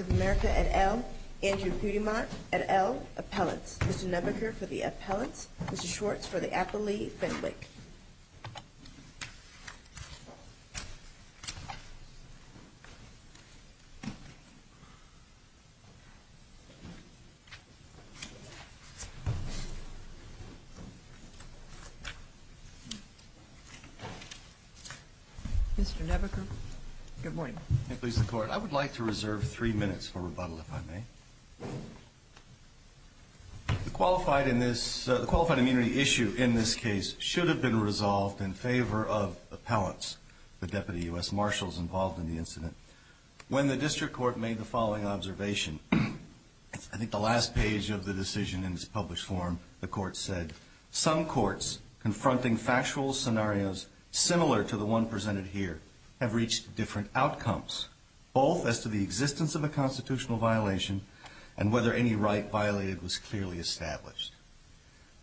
of America, et al., Andrew Pudimont, et al., Appellants. Mr. Nebaker for the Appellants. Mr. Schwartz for the Appellee Fenwick. Mr. Nebaker, good morning. Please, the Court. I would like to reserve three minutes for rebuttal, if I may. The qualified immunity issue in this case should have been resolved in favor of Appellants, the Deputy U.S. Marshals involved in the incident. When the District Court made the following observation, I think the last page of the decision in its published form, the Court said, some courts confronting factual scenarios similar to the one presented here have reached different outcomes, both as to the existence of a constitutional violation and whether any right violated was clearly established.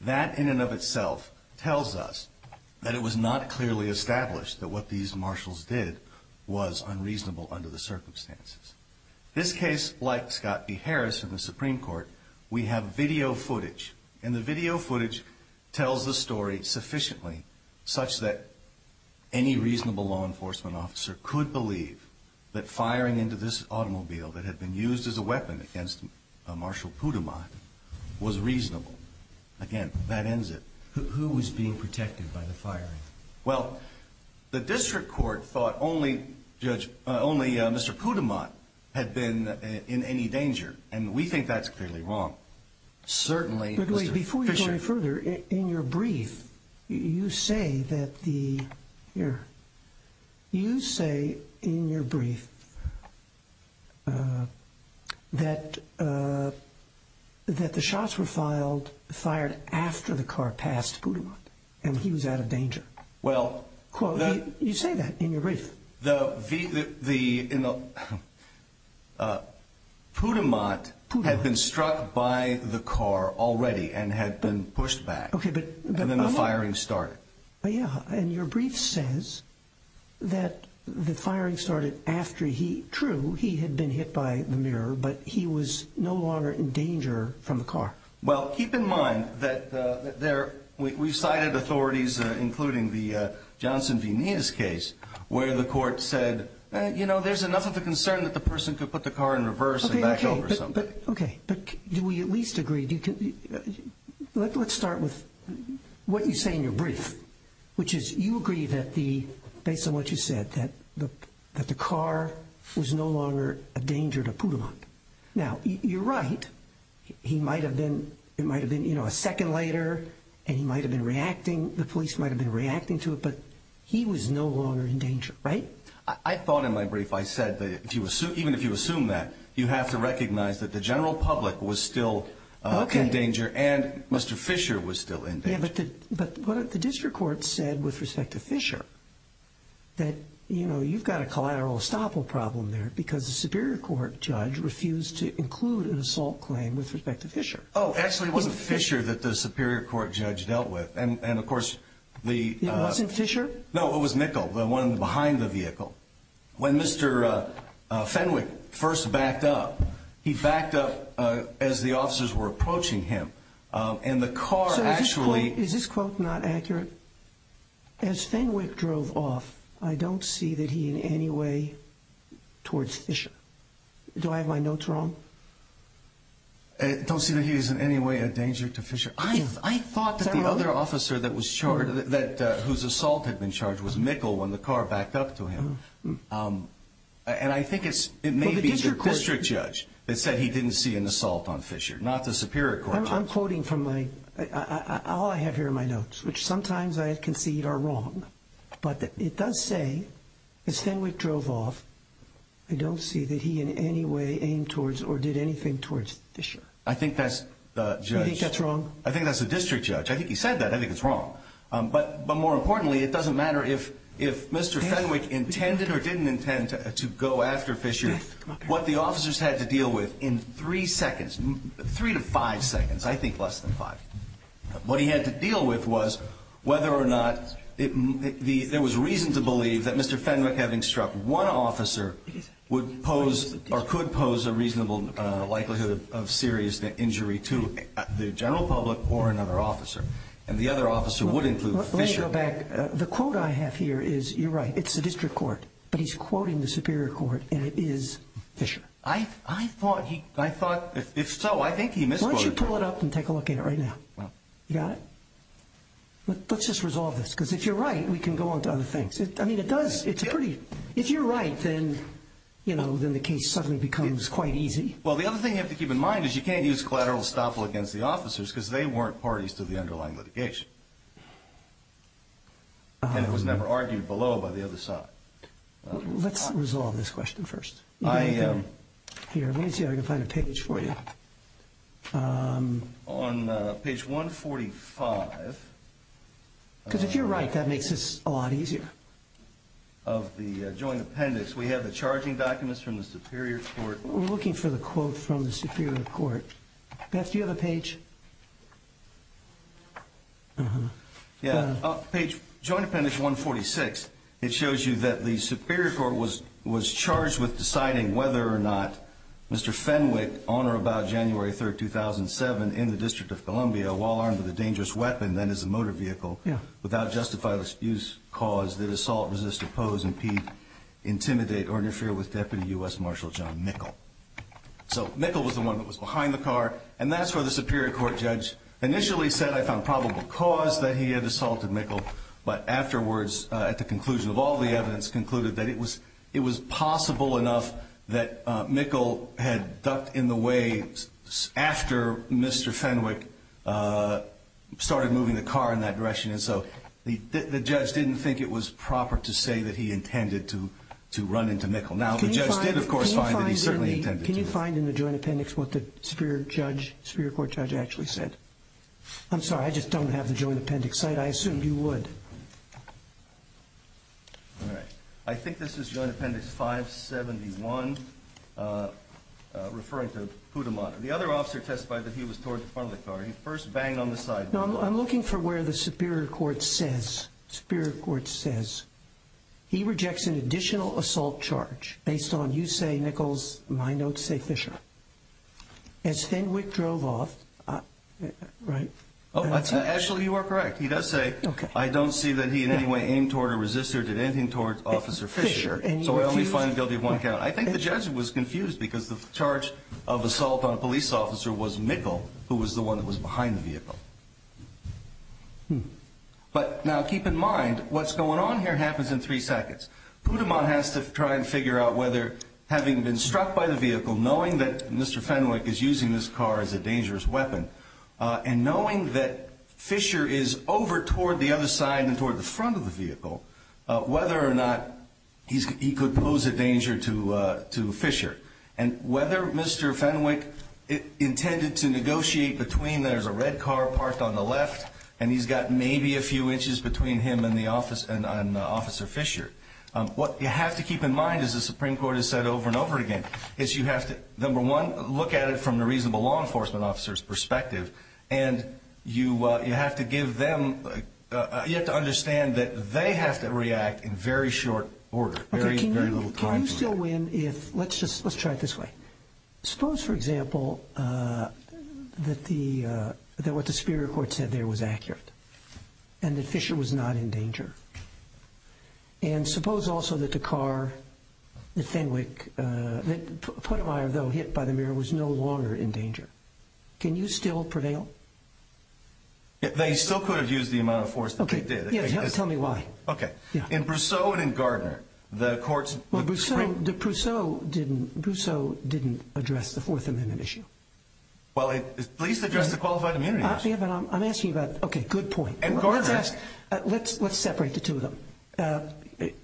That in and of itself tells us that it was not clearly established that what these Marshals did was unreasonable under the circumstances. This case, like Scott v. Harris in the Supreme Court, we have video footage. And the video footage tells the story sufficiently such that any reasonable law enforcement officer could believe that firing into this automobile that had been used as a weapon against Marshal Pudimont was reasonable. Again, that ends it. Who was being protected by the firing? Well, the District Court thought only Mr. Pudimont had been in any danger, and we think that's clearly wrong. But wait, before you go any further, in your brief, you say that the shots were fired after the car passed Pudimont and he was out of danger. You say that in your brief. Pudimont had been struck by the car already and had been pushed back, and then the firing started. And your brief says that the firing started after he, true, he had been hit by the mirror, but he was no longer in danger from the car. Well, keep in mind that we've cited authorities, including the Johnson v. Nias case, where the court said, you know, there's enough of a concern that the person could put the car in reverse and back over something. OK, but do we at least agree? Let's start with what you say in your brief, which is you agree that the, based on what you said, that the car was no longer a danger to Pudimont. Now, you're right, he might have been, it might have been, you know, a second later, and he might have been reacting, the police might have been reacting to it, but he was no longer in danger, right? I thought in my brief I said that if you assume, even if you assume that, you have to recognize that the general public was still in danger and Mr. Fisher was still in danger. But the district court said, with respect to Fisher, that, you know, you've got a collateral estoppel problem there, because the Superior Court judge refused to include an assault claim with respect to Fisher. Oh, actually, it wasn't Fisher that the Superior Court judge dealt with. And, of course, the... It wasn't Fisher? No, it was Mikkel, the one behind the vehicle. When Mr. Fenwick first backed up, he backed up as the officers were approaching him, and the car actually... So, is this quote not accurate? As Fenwick drove off, I don't see that he in any way towards Fisher. Do I have my notes wrong? I don't see that he is in any way a danger to Fisher. I thought that the other officer that was charged, whose assault had been charged, was Mikkel when the car backed up to him. And I think it may be the district judge that said he didn't see an assault on Fisher, not the Superior Court judge. I'm quoting from my... All I have here are my notes, which sometimes I concede are wrong. But it does say, as Fenwick drove off, I don't see that he in any way aimed towards or did anything towards Fisher. I think that's the judge... You think that's wrong? I think that's the district judge. I think he said that. I think it's wrong. But more importantly, it doesn't matter if Mr. Fenwick intended or didn't intend to go after Fisher. What the officers had to deal with in three seconds, three to five seconds, I think less than five, what he had to deal with was whether or not... There was reason to believe that Mr. Fenwick, having struck one officer, would pose or could pose a reasonable likelihood of serious injury to the general public or another officer. And the other officer would include Fisher. Let me go back. The quote I have here is... You're right. It's the district court. But he's quoting the Superior Court, and it is Fisher. I thought he... I thought... If so, I think he misquoted... Why don't you pull it up and take a look at it right now? Well... You got it? Let's just resolve this, because if you're right, we can go on to other things. I mean, it does... It's a pretty... If you're right, then, you know, then the case suddenly becomes quite easy. Well, the other thing you have to keep in mind is you can't use collateral estoppel against the officers, because they weren't parties to the underlying litigation. And it was never argued below by the other side. Let's resolve this question first. I... Here, let me see if I can find a page for you. On page 145... Because if you're right, that makes this a lot easier. Of the joint appendix, we have the charging documents from the Superior Court... We're looking for the quote from the Superior Court. Beth, do you have a page? Uh-huh. Yeah. Page... Joint appendix 146. It shows you that the Superior Court was charged with deciding whether or not Mr. Fenwick, on or about January 3, 2007, in the District of Columbia, while armed with a dangerous weapon, that is a motor vehicle... Yeah. ...without justifiable excuse, cause, that assault, resist, oppose, impede, intimidate, or interfere with Deputy U.S. Marshal John Mickle. So Mickle was the one that was behind the car. And that's where the Superior Court judge initially said, I found probable cause that he had assaulted Mickle. But afterwards, at the conclusion of all the evidence, concluded that it was possible enough that Mickle had ducked in the way after Mr. Fenwick started moving the car in that direction. And so the judge didn't think it was proper to say that he intended to run into Mickle. Now, the judge did, of course, find that he certainly intended to. Can you find in the Joint Appendix what the Superior Court judge actually said? I'm sorry, I just don't have the Joint Appendix site. I assumed you would. All right. I think this is Joint Appendix 571, referring to Poudamont. The other officer testified that he was toward the front of the car. He first banged on the side. Now, I'm looking for where the Superior Court says. Superior Court says he rejects an additional assault charge based on you say Mickle's, my notes say Fisher. As Fenwick drove off, right? Actually, you are correct. He does say, I don't see that he in any way aimed toward or resisted or did anything towards Officer Fisher. So I only find guilty of one count. I think the judge was confused because the charge of assault on a police officer was Mickle, who was the one that was behind the vehicle. But now keep in mind, what's going on here happens in three seconds. Poudamont has to try and figure out whether, having been struck by the vehicle, knowing that Mr. Fenwick is using this car as a dangerous weapon, and knowing that Fisher is over toward the other side and toward the front of the vehicle, whether or not he could pose a danger to Fisher, and whether Mr. Fenwick intended to negotiate between there's a red car parked on the left and he's got maybe a few inches between him and Officer Fisher. What you have to keep in mind, as the Supreme Court has said over and over again, is you have to, number one, look at it from the reasonable law enforcement officer's perspective, and you have to give them, you have to understand that they have to react in very short order, very little time. Can you still win if, let's try it this way. Suppose, for example, that what the Superior Court said there was accurate and that Fisher was not in danger. And suppose also that the car that Fenwick, that Poudamont hit by the mirror, was no longer in danger. Can you still prevail? They still could have used the amount of force that they did. Tell me why. Okay. In Brousseau and in Gardner, the courts… Well, Brousseau didn't address the Fourth Amendment issue. Well, at least address the qualified immunity issue. I'm asking about, okay, good point. And Gardner. Let's separate the two of them.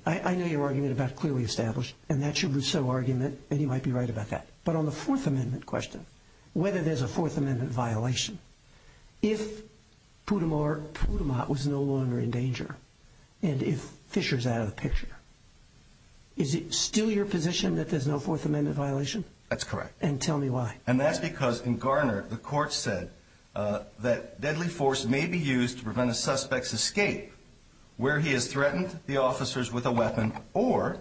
I know your argument about clearly established, and that's your Brousseau argument, and you might be right about that. But on the Fourth Amendment question, whether there's a Fourth Amendment violation, if Poudamont was no longer in danger and if Fisher's out of the picture, is it still your position that there's no Fourth Amendment violation? That's correct. And tell me why. And that's because in Gardner, the court said that deadly force may be used to prevent a suspect's escape where he has threatened the officers with a weapon or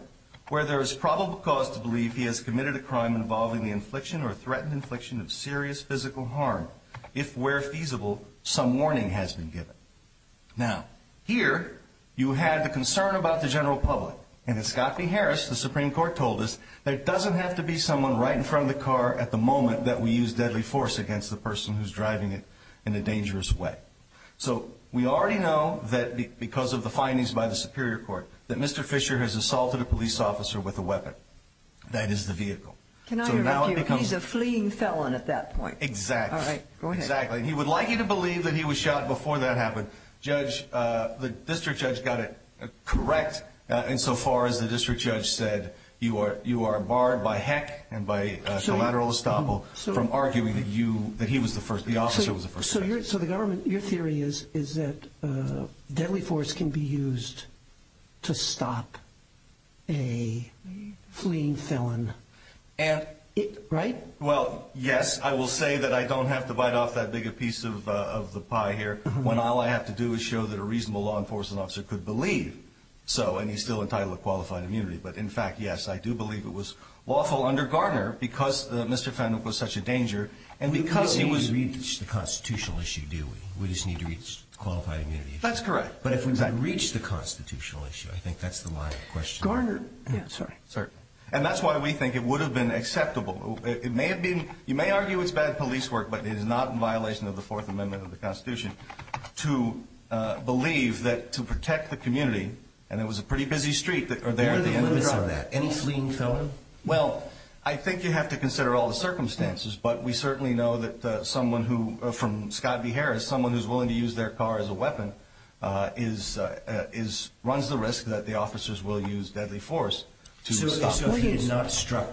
where there is probable cause to believe he has committed a crime involving the infliction or threatened infliction of serious physical harm if, where feasible, some warning has been given. Now, here you had the concern about the general public. And in Scott v. Harris, the Supreme Court told us there doesn't have to be someone right in front of the car at the moment that we use deadly force against the person who's driving it in a dangerous way. So we already know that because of the findings by the Superior Court that Mr. Fisher has assaulted a police officer with a weapon. That is the vehicle. Can I argue he's a fleeing felon at that point? Exactly. All right. Go ahead. Exactly. And he would like you to believe that he was shot before that happened. Judge, the district judge got it correct insofar as the district judge said you are barred by heck and by collateral estoppel from arguing that he was the first, the officer was the first victim. So the government, your theory is that deadly force can be used to stop a fleeing felon, right? Well, yes. I will say that I don't have to bite off that bigger piece of the pie here when all I have to do is show that a reasonable law enforcement officer could believe so. And he's still entitled to qualified immunity. But, in fact, yes, I do believe it was lawful under Garner because Mr. Fenn was such a danger. We don't need to reach the constitutional issue, do we? We just need to reach qualified immunity. That's correct. But if we don't reach the constitutional issue, I think that's the line of the question. Garner. Sorry. And that's why we think it would have been acceptable. You may argue it's bad police work, but it is not in violation of the Fourth Amendment of the Constitution to believe that to protect the community, and it was a pretty busy street there at the end of that. Any fleeing felon? Well, I think you have to consider all the circumstances, but we certainly know that someone from Scott v. Harris, someone who's willing to use their car as a weapon, runs the risk that the officers will use deadly force to stop him. So if he had not struck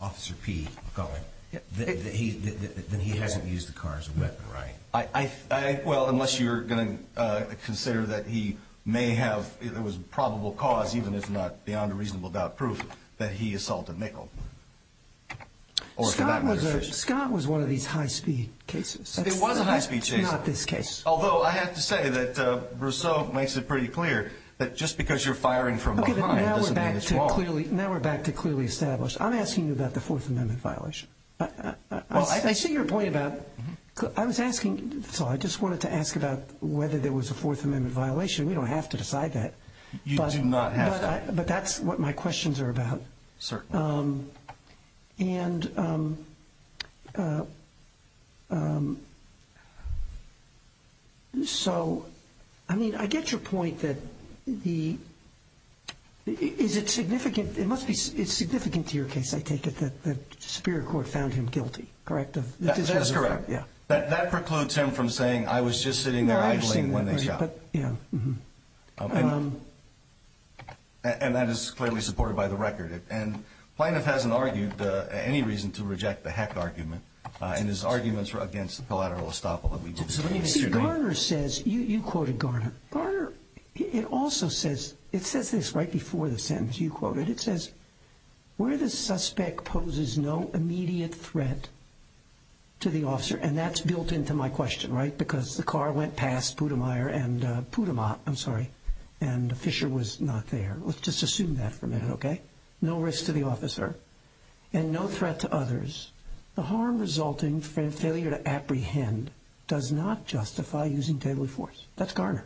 Officer P. McCauley, then he hasn't used the car as a weapon, right? Well, unless you're going to consider that he may have. It was probable cause, even if not beyond a reasonable doubt, proof that he assaulted Mickle. Scott was one of these high-speed cases. It was a high-speed case. Not this case. Although I have to say that Rousseau makes it pretty clear that just because you're firing from behind doesn't mean it's wrong. Now we're back to clearly established. I'm asking you about the Fourth Amendment violation. I see your point about. I was asking. I just wanted to ask about whether there was a Fourth Amendment violation. We don't have to decide that. You do not have that. But that's what my questions are about. Certainly. And so, I mean, I get your point that the. Is it significant? It must be significant to your case, I take it, that the Superior Court found him guilty, correct? That's correct. Yeah. That precludes him from saying I was just sitting there idling when they shot. But, yeah. And that is clearly supported by the record. And Planoff hasn't argued any reason to reject the Heck argument. And his arguments were against the collateral estoppel that we did. See, Garner says. You quoted Garner. Garner, it also says. It says this right before the sentence you quoted. It says, where the suspect poses no immediate threat to the officer. And that's built into my question, right? Because the car went past Poudamire and Poudamont. I'm sorry. And Fisher was not there. Let's just assume that for a minute, okay? No risk to the officer. And no threat to others. The harm resulting from failure to apprehend does not justify using deadly force. That's Garner.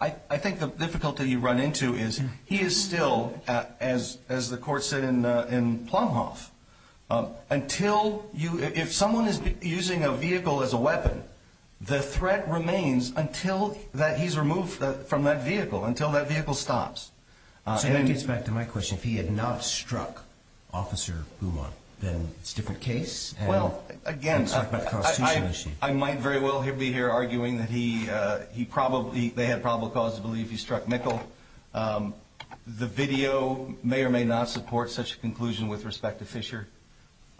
I think the difficulty you run into is he is still, as the court said in Planoff, until you, if someone is using a vehicle as a weapon, the threat remains until he's removed from that vehicle, until that vehicle stops. So that gets back to my question. If he had not struck Officer Poudamont, then it's a different case? Well, again, I might very well be here arguing that he probably, they had probable cause to believe he struck Mikkel. The video may or may not support such a conclusion with respect to Fisher.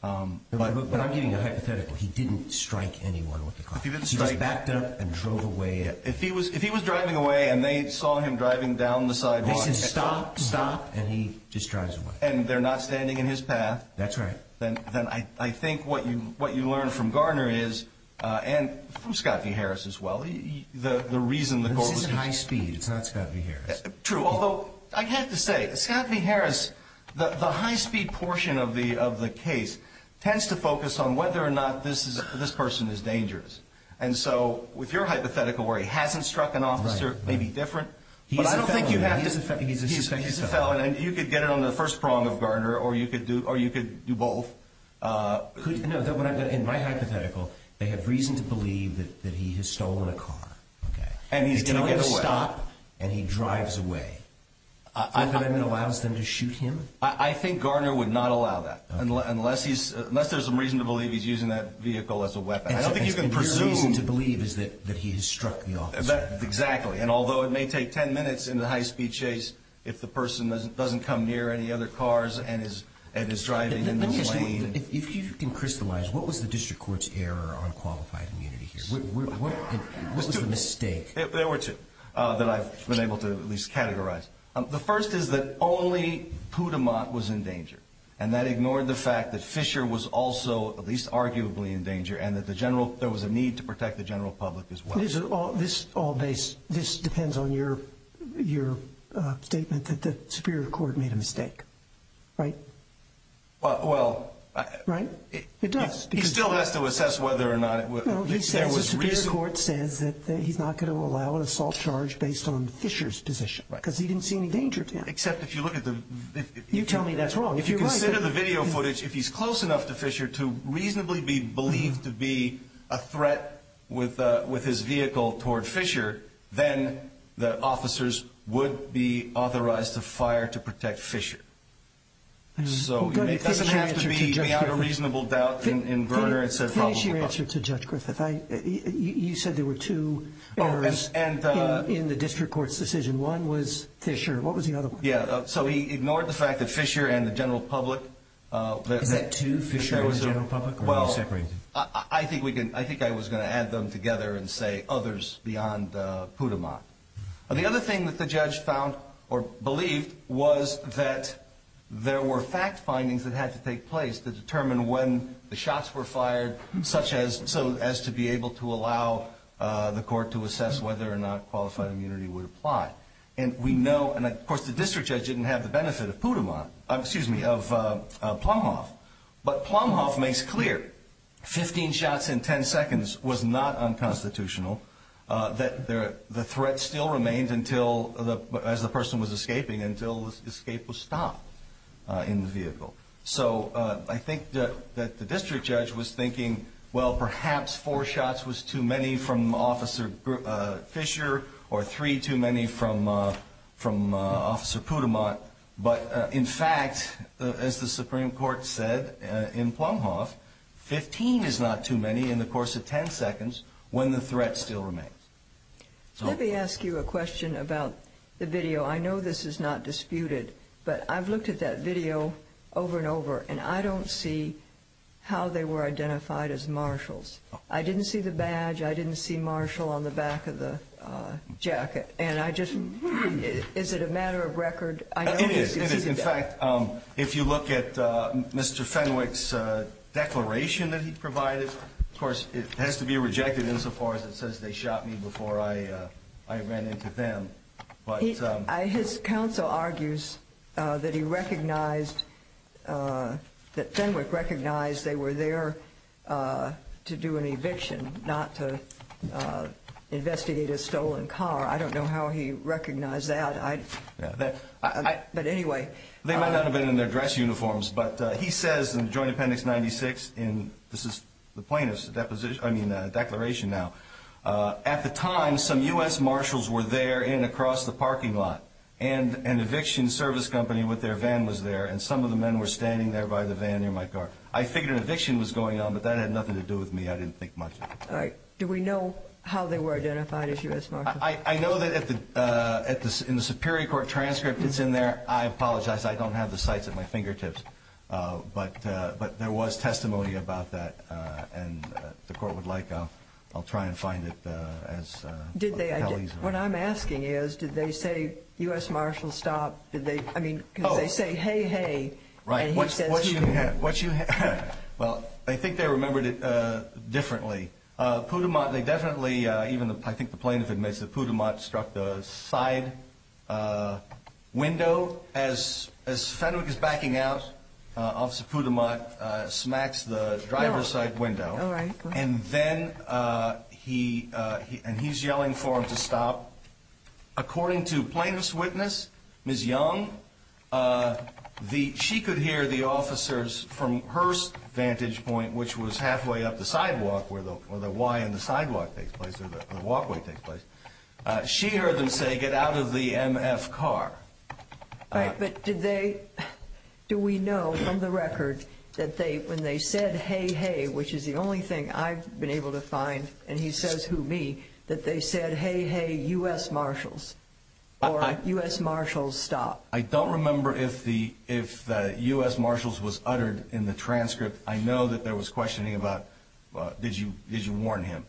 But I'm giving you a hypothetical. He didn't strike anyone with the car. He just backed up and drove away. If he was driving away and they saw him driving down the sidewalk. They said, stop, stop, and he just drives away. And they're not standing in his path. That's right. Then I think what you learn from Garner is, and from Scott V. Harris as well, the reason the court was... True. Although, I have to say, Scott V. Harris, the high-speed portion of the case, tends to focus on whether or not this person is dangerous. And so, with your hypothetical where he hasn't struck an officer, it may be different. But I don't think you have to... He's a felon. He's a felon, and you could get it on the first prong of Garner, or you could do both. In my hypothetical, they have reason to believe that he has stolen a car. And he's going to get away. They tell him to stop, and he drives away. You think that allows them to shoot him? I think Garner would not allow that, unless there's some reason to believe he's using that vehicle as a weapon. I don't think you can presume. And your reason to believe is that he has struck the officer. Exactly. And although it may take 10 minutes in the high-speed chase if the person doesn't come near any other cars and is driving in the lane... Let me ask you, if you can crystallize, what was the district court's error on qualified immunity here? What was the mistake? There were two that I've been able to at least categorize. The first is that only Poudamont was in danger, and that ignored the fact that Fisher was also at least arguably in danger and that there was a need to protect the general public as well. This depends on your statement that the Superior Court made a mistake, right? Well... Right? It does. He still has to assess whether or not it was... No, he says the Superior Court says that he's not going to allow an assault charge based on Fisher's position because he didn't see any danger to him. Except if you look at the... You tell me that's wrong. If you consider the video footage, if he's close enough to Fisher to reasonably be believed to be a threat with his vehicle toward Fisher, then the officers would be authorized to fire to protect Fisher. So it doesn't have to be without a reasonable doubt in Verner... Finish your answer to Judge Griffith. You said there were two errors in the district court's decision. One was Fisher. What was the other one? Yeah. So he ignored the fact that Fisher and the general public... Is that two? Fisher and the general public? Or are they separated? I think I was going to add them together and say others beyond Poudamont. The other thing that the judge found or believed was that there were fact findings that had to take place to determine when the shots were fired, such as to be able to allow the court to assess whether or not qualified immunity would apply. And we know... And, of course, the district judge didn't have the benefit of Poudamont... Excuse me, of Plumhoff. But Plumhoff makes clear 15 shots in 10 seconds was not unconstitutional, that the threat still remained until, as the person was escaping, until the escape was stopped in the vehicle. So I think that the district judge was thinking, well, perhaps four shots was too many from Officer Fisher or three too many from Officer Poudamont. But, in fact, as the Supreme Court said in Plumhoff, 15 is not too many in the course of 10 seconds when the threat still remains. Let me ask you a question about the video. I know this is not disputed, but I've looked at that video over and over, and I don't see how they were identified as marshals. I didn't see the badge. I didn't see marshal on the back of the jacket. And I just... Is it a matter of record? It is. In fact, if you look at Mr. Fenwick's declaration that he provided, of course, it has to be rejected insofar as it says they shot me before I ran into them. His counsel argues that he recognized, that Fenwick recognized they were there to do an eviction, not to investigate a stolen car. I don't know how he recognized that. But anyway... They might not have been in their dress uniforms. But he says in Joint Appendix 96, and this is the plaintiff's declaration now, at the time some U.S. marshals were there and across the parking lot, and an eviction service company with their van was there, and some of the men were standing there by the van near my car. I figured an eviction was going on, but that had nothing to do with me. I didn't think much of it. Do we know how they were identified as U.S. marshals? I know that in the Superior Court transcript it's in there. I apologize. I don't have the sites at my fingertips. But there was testimony about that, and the Court would like... I'll try and find it. What I'm asking is, did they say, U.S. marshals, stop? I mean, because they say, hey, hey, and he says... Right. Well, I think they remembered it differently. Poudamont, they definitely, even I think the plaintiff admits that Poudamont struck the side window. As Fenwick is backing out, Officer Poudamont smacks the driver's side window. All right. And then he's yelling for him to stop. According to plaintiff's witness, Ms. Young, she could hear the officers from her vantage point, which was halfway up the sidewalk where the Y on the sidewalk takes place or the walkway takes place. She heard them say, get out of the M.F. car. Right. But do we know from the record that when they said, hey, hey, which is the only thing I've been able to find, and he says, who, me, that they said, hey, hey, U.S. marshals, or U.S. marshals, stop? I don't remember if the U.S. marshals was uttered in the transcript. I know that there was questioning about did you warn him.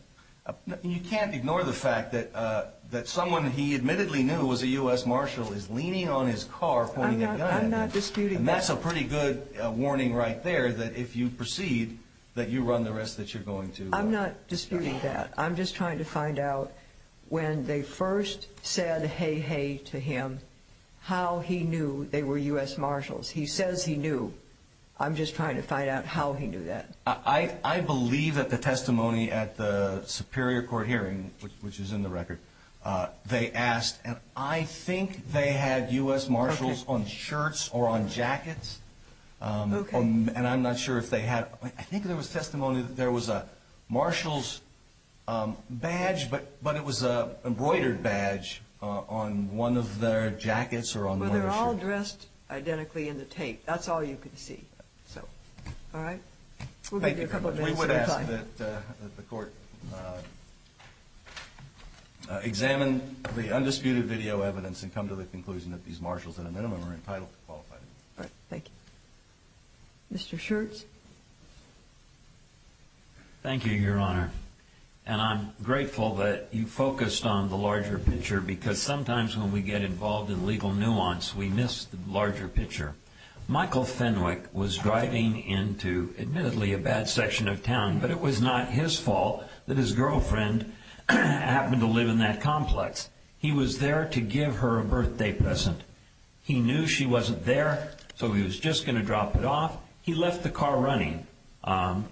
You can't ignore the fact that someone he admittedly knew was a U.S. marshal is leaning on his car pointing a gun. I'm not disputing that. And that's a pretty good warning right there that if you proceed, that you run the risk that you're going to. I'm not disputing that. I'm just trying to find out when they first said hey, hey to him, how he knew they were U.S. marshals. He says he knew. I'm just trying to find out how he knew that. I believe that the testimony at the Superior Court hearing, which is in the record, they asked, and I think they had U.S. marshals on shirts or on jackets, and I'm not sure if they had. I think there was testimony that there was a marshal's badge, but it was an embroidered badge on one of their jackets or on one of their shirts. They were all dressed identically in the tape. That's all you could see. So, all right. We'll give you a couple of minutes. We would ask that the Court examine the undisputed video evidence and come to the conclusion that these marshals at a minimum are entitled to qualify. All right. Thank you. Mr. Schertz. Thank you, Your Honor. And I'm grateful that you focused on the larger picture because sometimes when we get involved in legal nuance, we miss the larger picture. Michael Fenwick was driving into, admittedly, a bad section of town, but it was not his fault that his girlfriend happened to live in that complex. He was there to give her a birthday present. He knew she wasn't there, so he was just going to drop it off. He left the car running.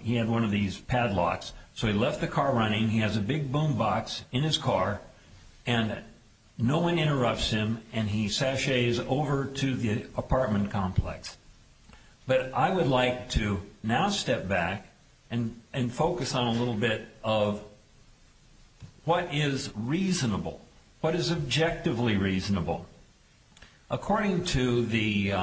He had one of these padlocks, so he left the car running. He has a big boom box in his car, and no one interrupts him, and he sashays over to the apartment complex. But I would like to now step back and focus on a little bit of what is reasonable, what is objectively reasonable. According to the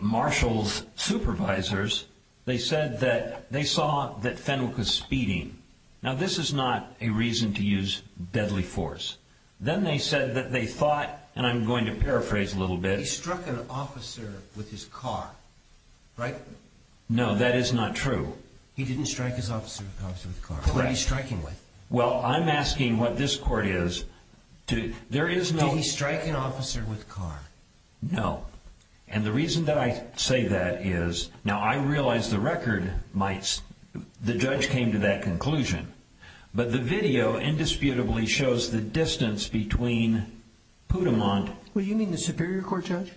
marshal's supervisors, they said that they saw that Fenwick was speeding. Now, this is not a reason to use deadly force. Then they said that they thought, and I'm going to paraphrase a little bit. He struck an officer with his car, right? No, that is not true. He didn't strike his officer with a car. Who was he striking with? Well, I'm asking what this court is. Did he strike an officer with a car? No. And the reason that I say that is, now I realize the record might, the judge came to that conclusion. But the video indisputably shows the distance between Poudamont... Well, you mean the Superior Court judge?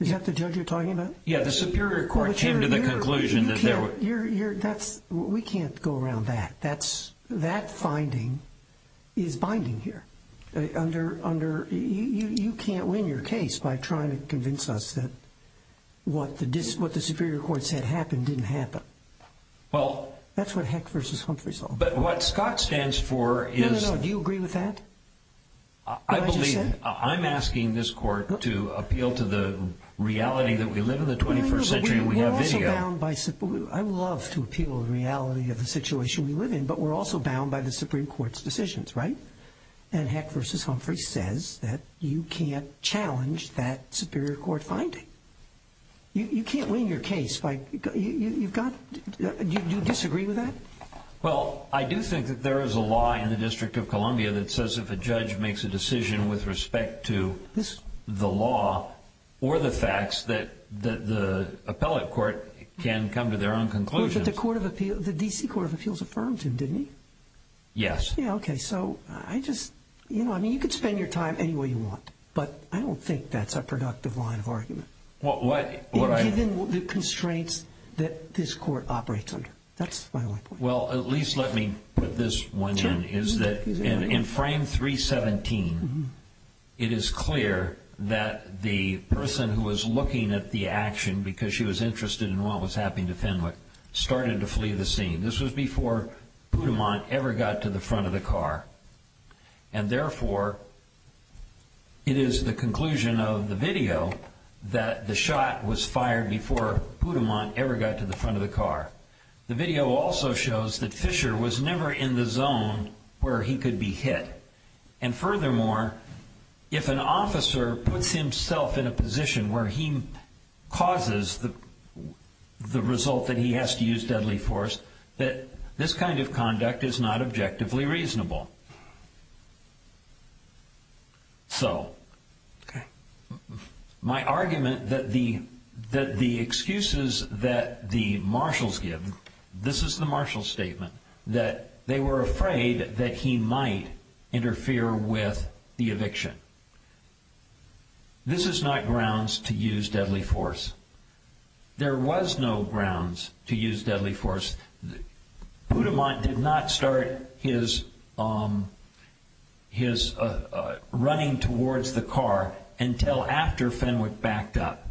Is that the judge you're talking about? Yeah, the Superior Court came to the conclusion that there were... We can't go around that. That finding is binding here. You can't win your case by trying to convince us that what the Superior Court said happened didn't happen. That's what Heck v. Humphrey saw. But what Scott stands for is... No, no, no. Do you agree with that? I believe, I'm asking this court to appeal to the reality that we live in the 21st century and we have video. I would love to appeal to the reality of the situation we live in, but we're also bound by the Supreme Court's decisions, right? And Heck v. Humphrey says that you can't challenge that Superior Court finding. You can't win your case by... Do you disagree with that? Well, I do think that there is a law in the District of Columbia that says if a judge makes a decision with respect to the law or the facts, that the appellate court can come to their own conclusions. But the D.C. Court of Appeals affirmed him, didn't it? Yes. Yeah, okay, so I just... I mean, you can spend your time any way you want, but I don't think that's a productive line of argument. Given the constraints that this court operates under. That's my only point. Well, at least let me put this one in. In frame 317, it is clear that the person who was looking at the action because she was interested in what was happening to Fenwick started to flee the scene. This was before Poudamont ever got to the front of the car. And therefore, it is the conclusion of the video that the shot was fired before Poudamont ever got to the front of the car. The video also shows that Fisher was never in the zone where he could be hit. And furthermore, if an officer puts himself in a position where he causes the result that he has to use deadly force, that this kind of conduct is not objectively reasonable. So, my argument that the excuses that the marshals give, this is the marshal's statement, that they were afraid that he might interfere with the eviction. This is not grounds to use deadly force. There was no grounds to use deadly force. Poudamont did not start his running towards the car until after Fenwick backed up.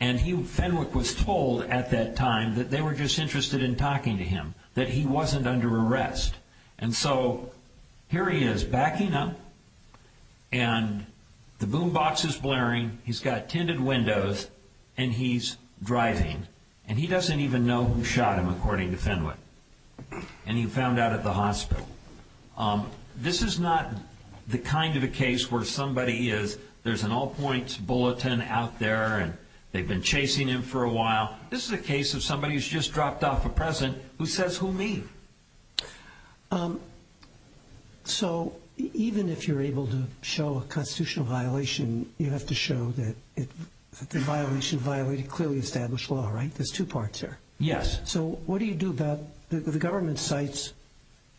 And Fenwick was told at that time that they were just interested in talking to him, that he wasn't under arrest. And so, here he is backing up, and the boom box is blaring, he's got tinted windows, and he's driving. And he doesn't even know who shot him, according to Fenwick. And he found out at the hospital. This is not the kind of a case where somebody is, there's an all-points bulletin out there, and they've been chasing him for a while. This is a case of somebody who's just dropped off a present who says, who me? So, even if you're able to show a constitutional violation, you have to show that the violation violated clearly established law, right? There's two parts here. Yes. So, what do you do about, the government cites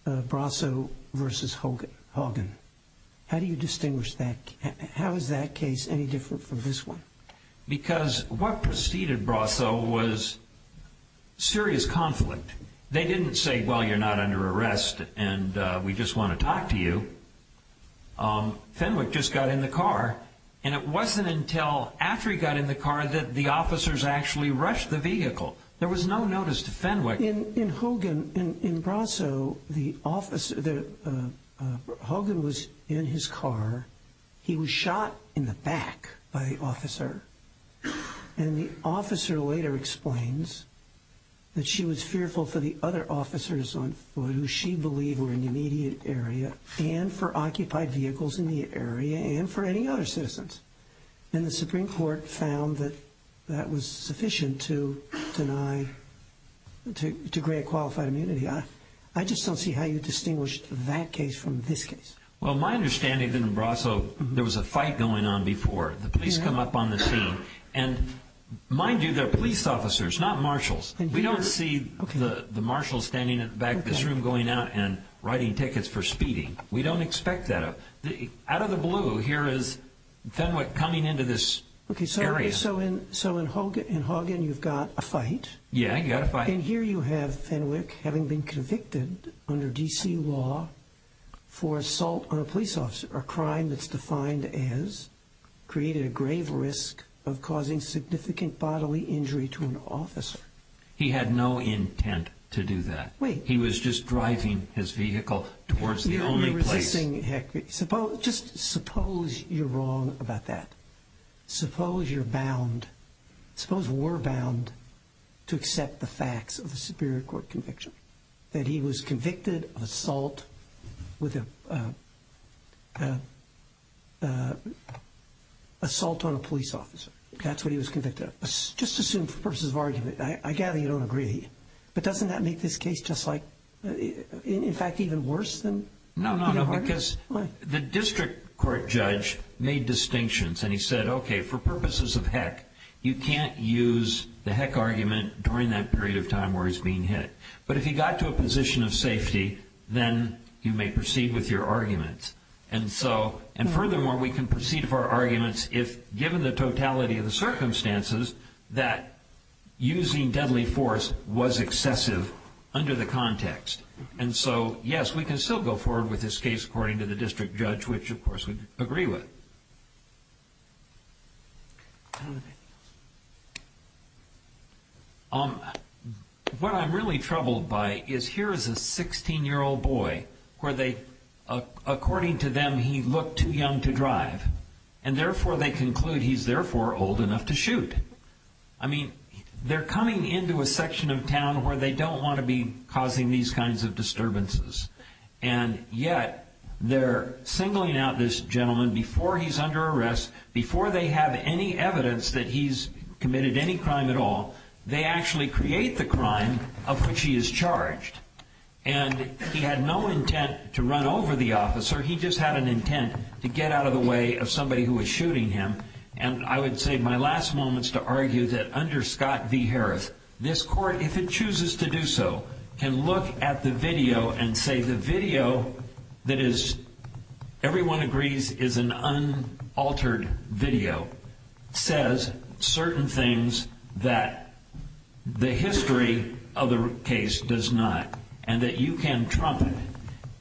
Brasso versus Hogan. How do you distinguish that? How is that case any different from this one? Because what preceded Brasso was serious conflict. They didn't say, well, you're not under arrest, and we just want to talk to you. Fenwick just got in the car. And it wasn't until after he got in the car that the officers actually rushed the vehicle. There was no notice to Fenwick. In Hogan, in Brasso, the officer, Hogan was in his car. He was shot in the back by the officer. And the officer later explains that she was fearful for the other officers on foot, who she believed were in the immediate area, and for occupied vehicles in the area, and for any other citizens. And the Supreme Court found that that was sufficient to deny, to grant qualified immunity. I just don't see how you distinguish that case from this case. Well, my understanding in Brasso, there was a fight going on before. The police come up on the scene. And mind you, they're police officers, not marshals. We don't see the marshals standing in the back of this room going out and writing tickets for speeding. We don't expect that. Out of the blue, here is Fenwick coming into this area. So in Hogan, you've got a fight. Yeah, you've got a fight. And here you have Fenwick having been convicted under D.C. law for assault on a police officer, a crime that's defined as creating a grave risk of causing significant bodily injury to an officer. He had no intent to do that. Wait. He was just driving his vehicle towards the only place. You're only resisting, heck, just suppose you're wrong about that. Suppose you're bound, suppose we're bound to accept the facts of a Superior Court conviction, that he was convicted of assault with an assault on a police officer. That's what he was convicted of. Just assume for purposes of argument, I gather you don't agree. But doesn't that make this case just like, in fact, even worse than? No, no, no, because the district court judge made distinctions, and he said, okay, for purposes of heck, you can't use the heck argument during that period of time where he's being hit. But if he got to a position of safety, then you may proceed with your argument. And furthermore, we can proceed with our arguments if, given the totality of the circumstances, that using deadly force was excessive under the context. And so, yes, we can still go forward with this case according to the district judge, which, of course, we'd agree with. Thank you. What I'm really troubled by is here is a 16-year-old boy where they, according to them, he looked too young to drive. And therefore, they conclude he's, therefore, old enough to shoot. I mean, they're coming into a section of town where they don't want to be causing these kinds of disturbances. And yet, they're singling out this gentleman before he's under arrest, before they have any evidence that he's committed any crime at all. They actually create the crime of which he is charged. And he had no intent to run over the officer. He just had an intent to get out of the way of somebody who was shooting him. And I would say my last moment is to argue that under Scott v. Harreth, this court, if it chooses to do so, can look at the video and say the video that is, everyone agrees, is an unaltered video, says certain things that the history of the case does not and that you can trump it.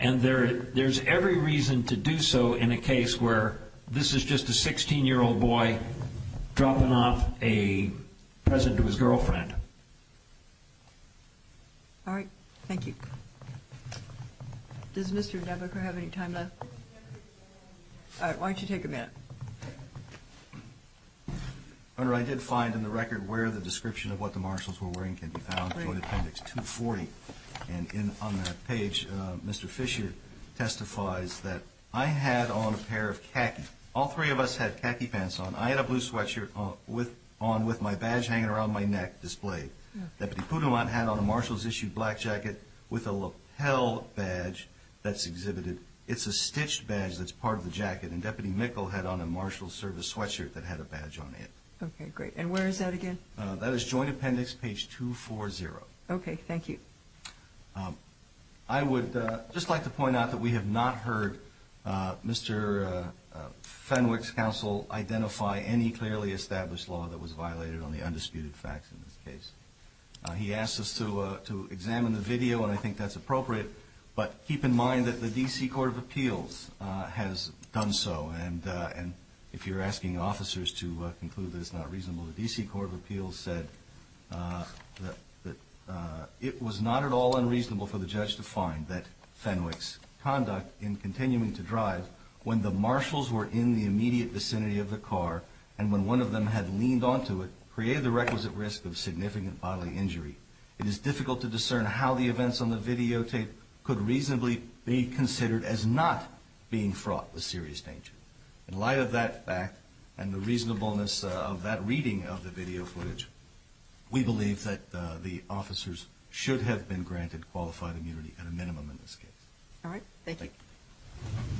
And there's every reason to do so in a case where this is just a 16-year-old boy dropping off a present to his girlfriend. All right. Thank you. Does Mr. Debecker have any time left? All right. Why don't you take a minute? Your Honor, I did find in the record where the description of what the marshals were wearing can be found in appendix 240. And on that page, Mr. Fisher testifies that I had on a pair of khaki. All three of us had khaki pants on. I had a blue sweatshirt on with my badge hanging around my neck displayed. Deputy Poudelant had on a marshals-issued black jacket with a lapel badge that's exhibited. And Deputy Mikkel had on a marshals-service sweatshirt that had a badge on it. Okay. Great. And where is that again? That is joint appendix page 240. Okay. Thank you. I would just like to point out that we have not heard Mr. Fenwick's counsel identify any clearly established law that was violated on the undisputed facts in this case. He asked us to examine the video, and I think that's appropriate. But keep in mind that the D.C. Court of Appeals has done so, and if you're asking officers to conclude that it's not reasonable, the D.C. Court of Appeals said that it was not at all unreasonable for the judge to find that Fenwick's conduct in continuing to drive when the marshals were in the immediate vicinity of the car and when one of them had leaned onto it, created the requisite risk of significant bodily injury. It is difficult to discern how the events on the videotape could reasonably be considered as not being fraught with serious danger. In light of that fact and the reasonableness of that reading of the video footage, we believe that the officers should have been granted qualified immunity at a minimum in this case. All right. Thank you.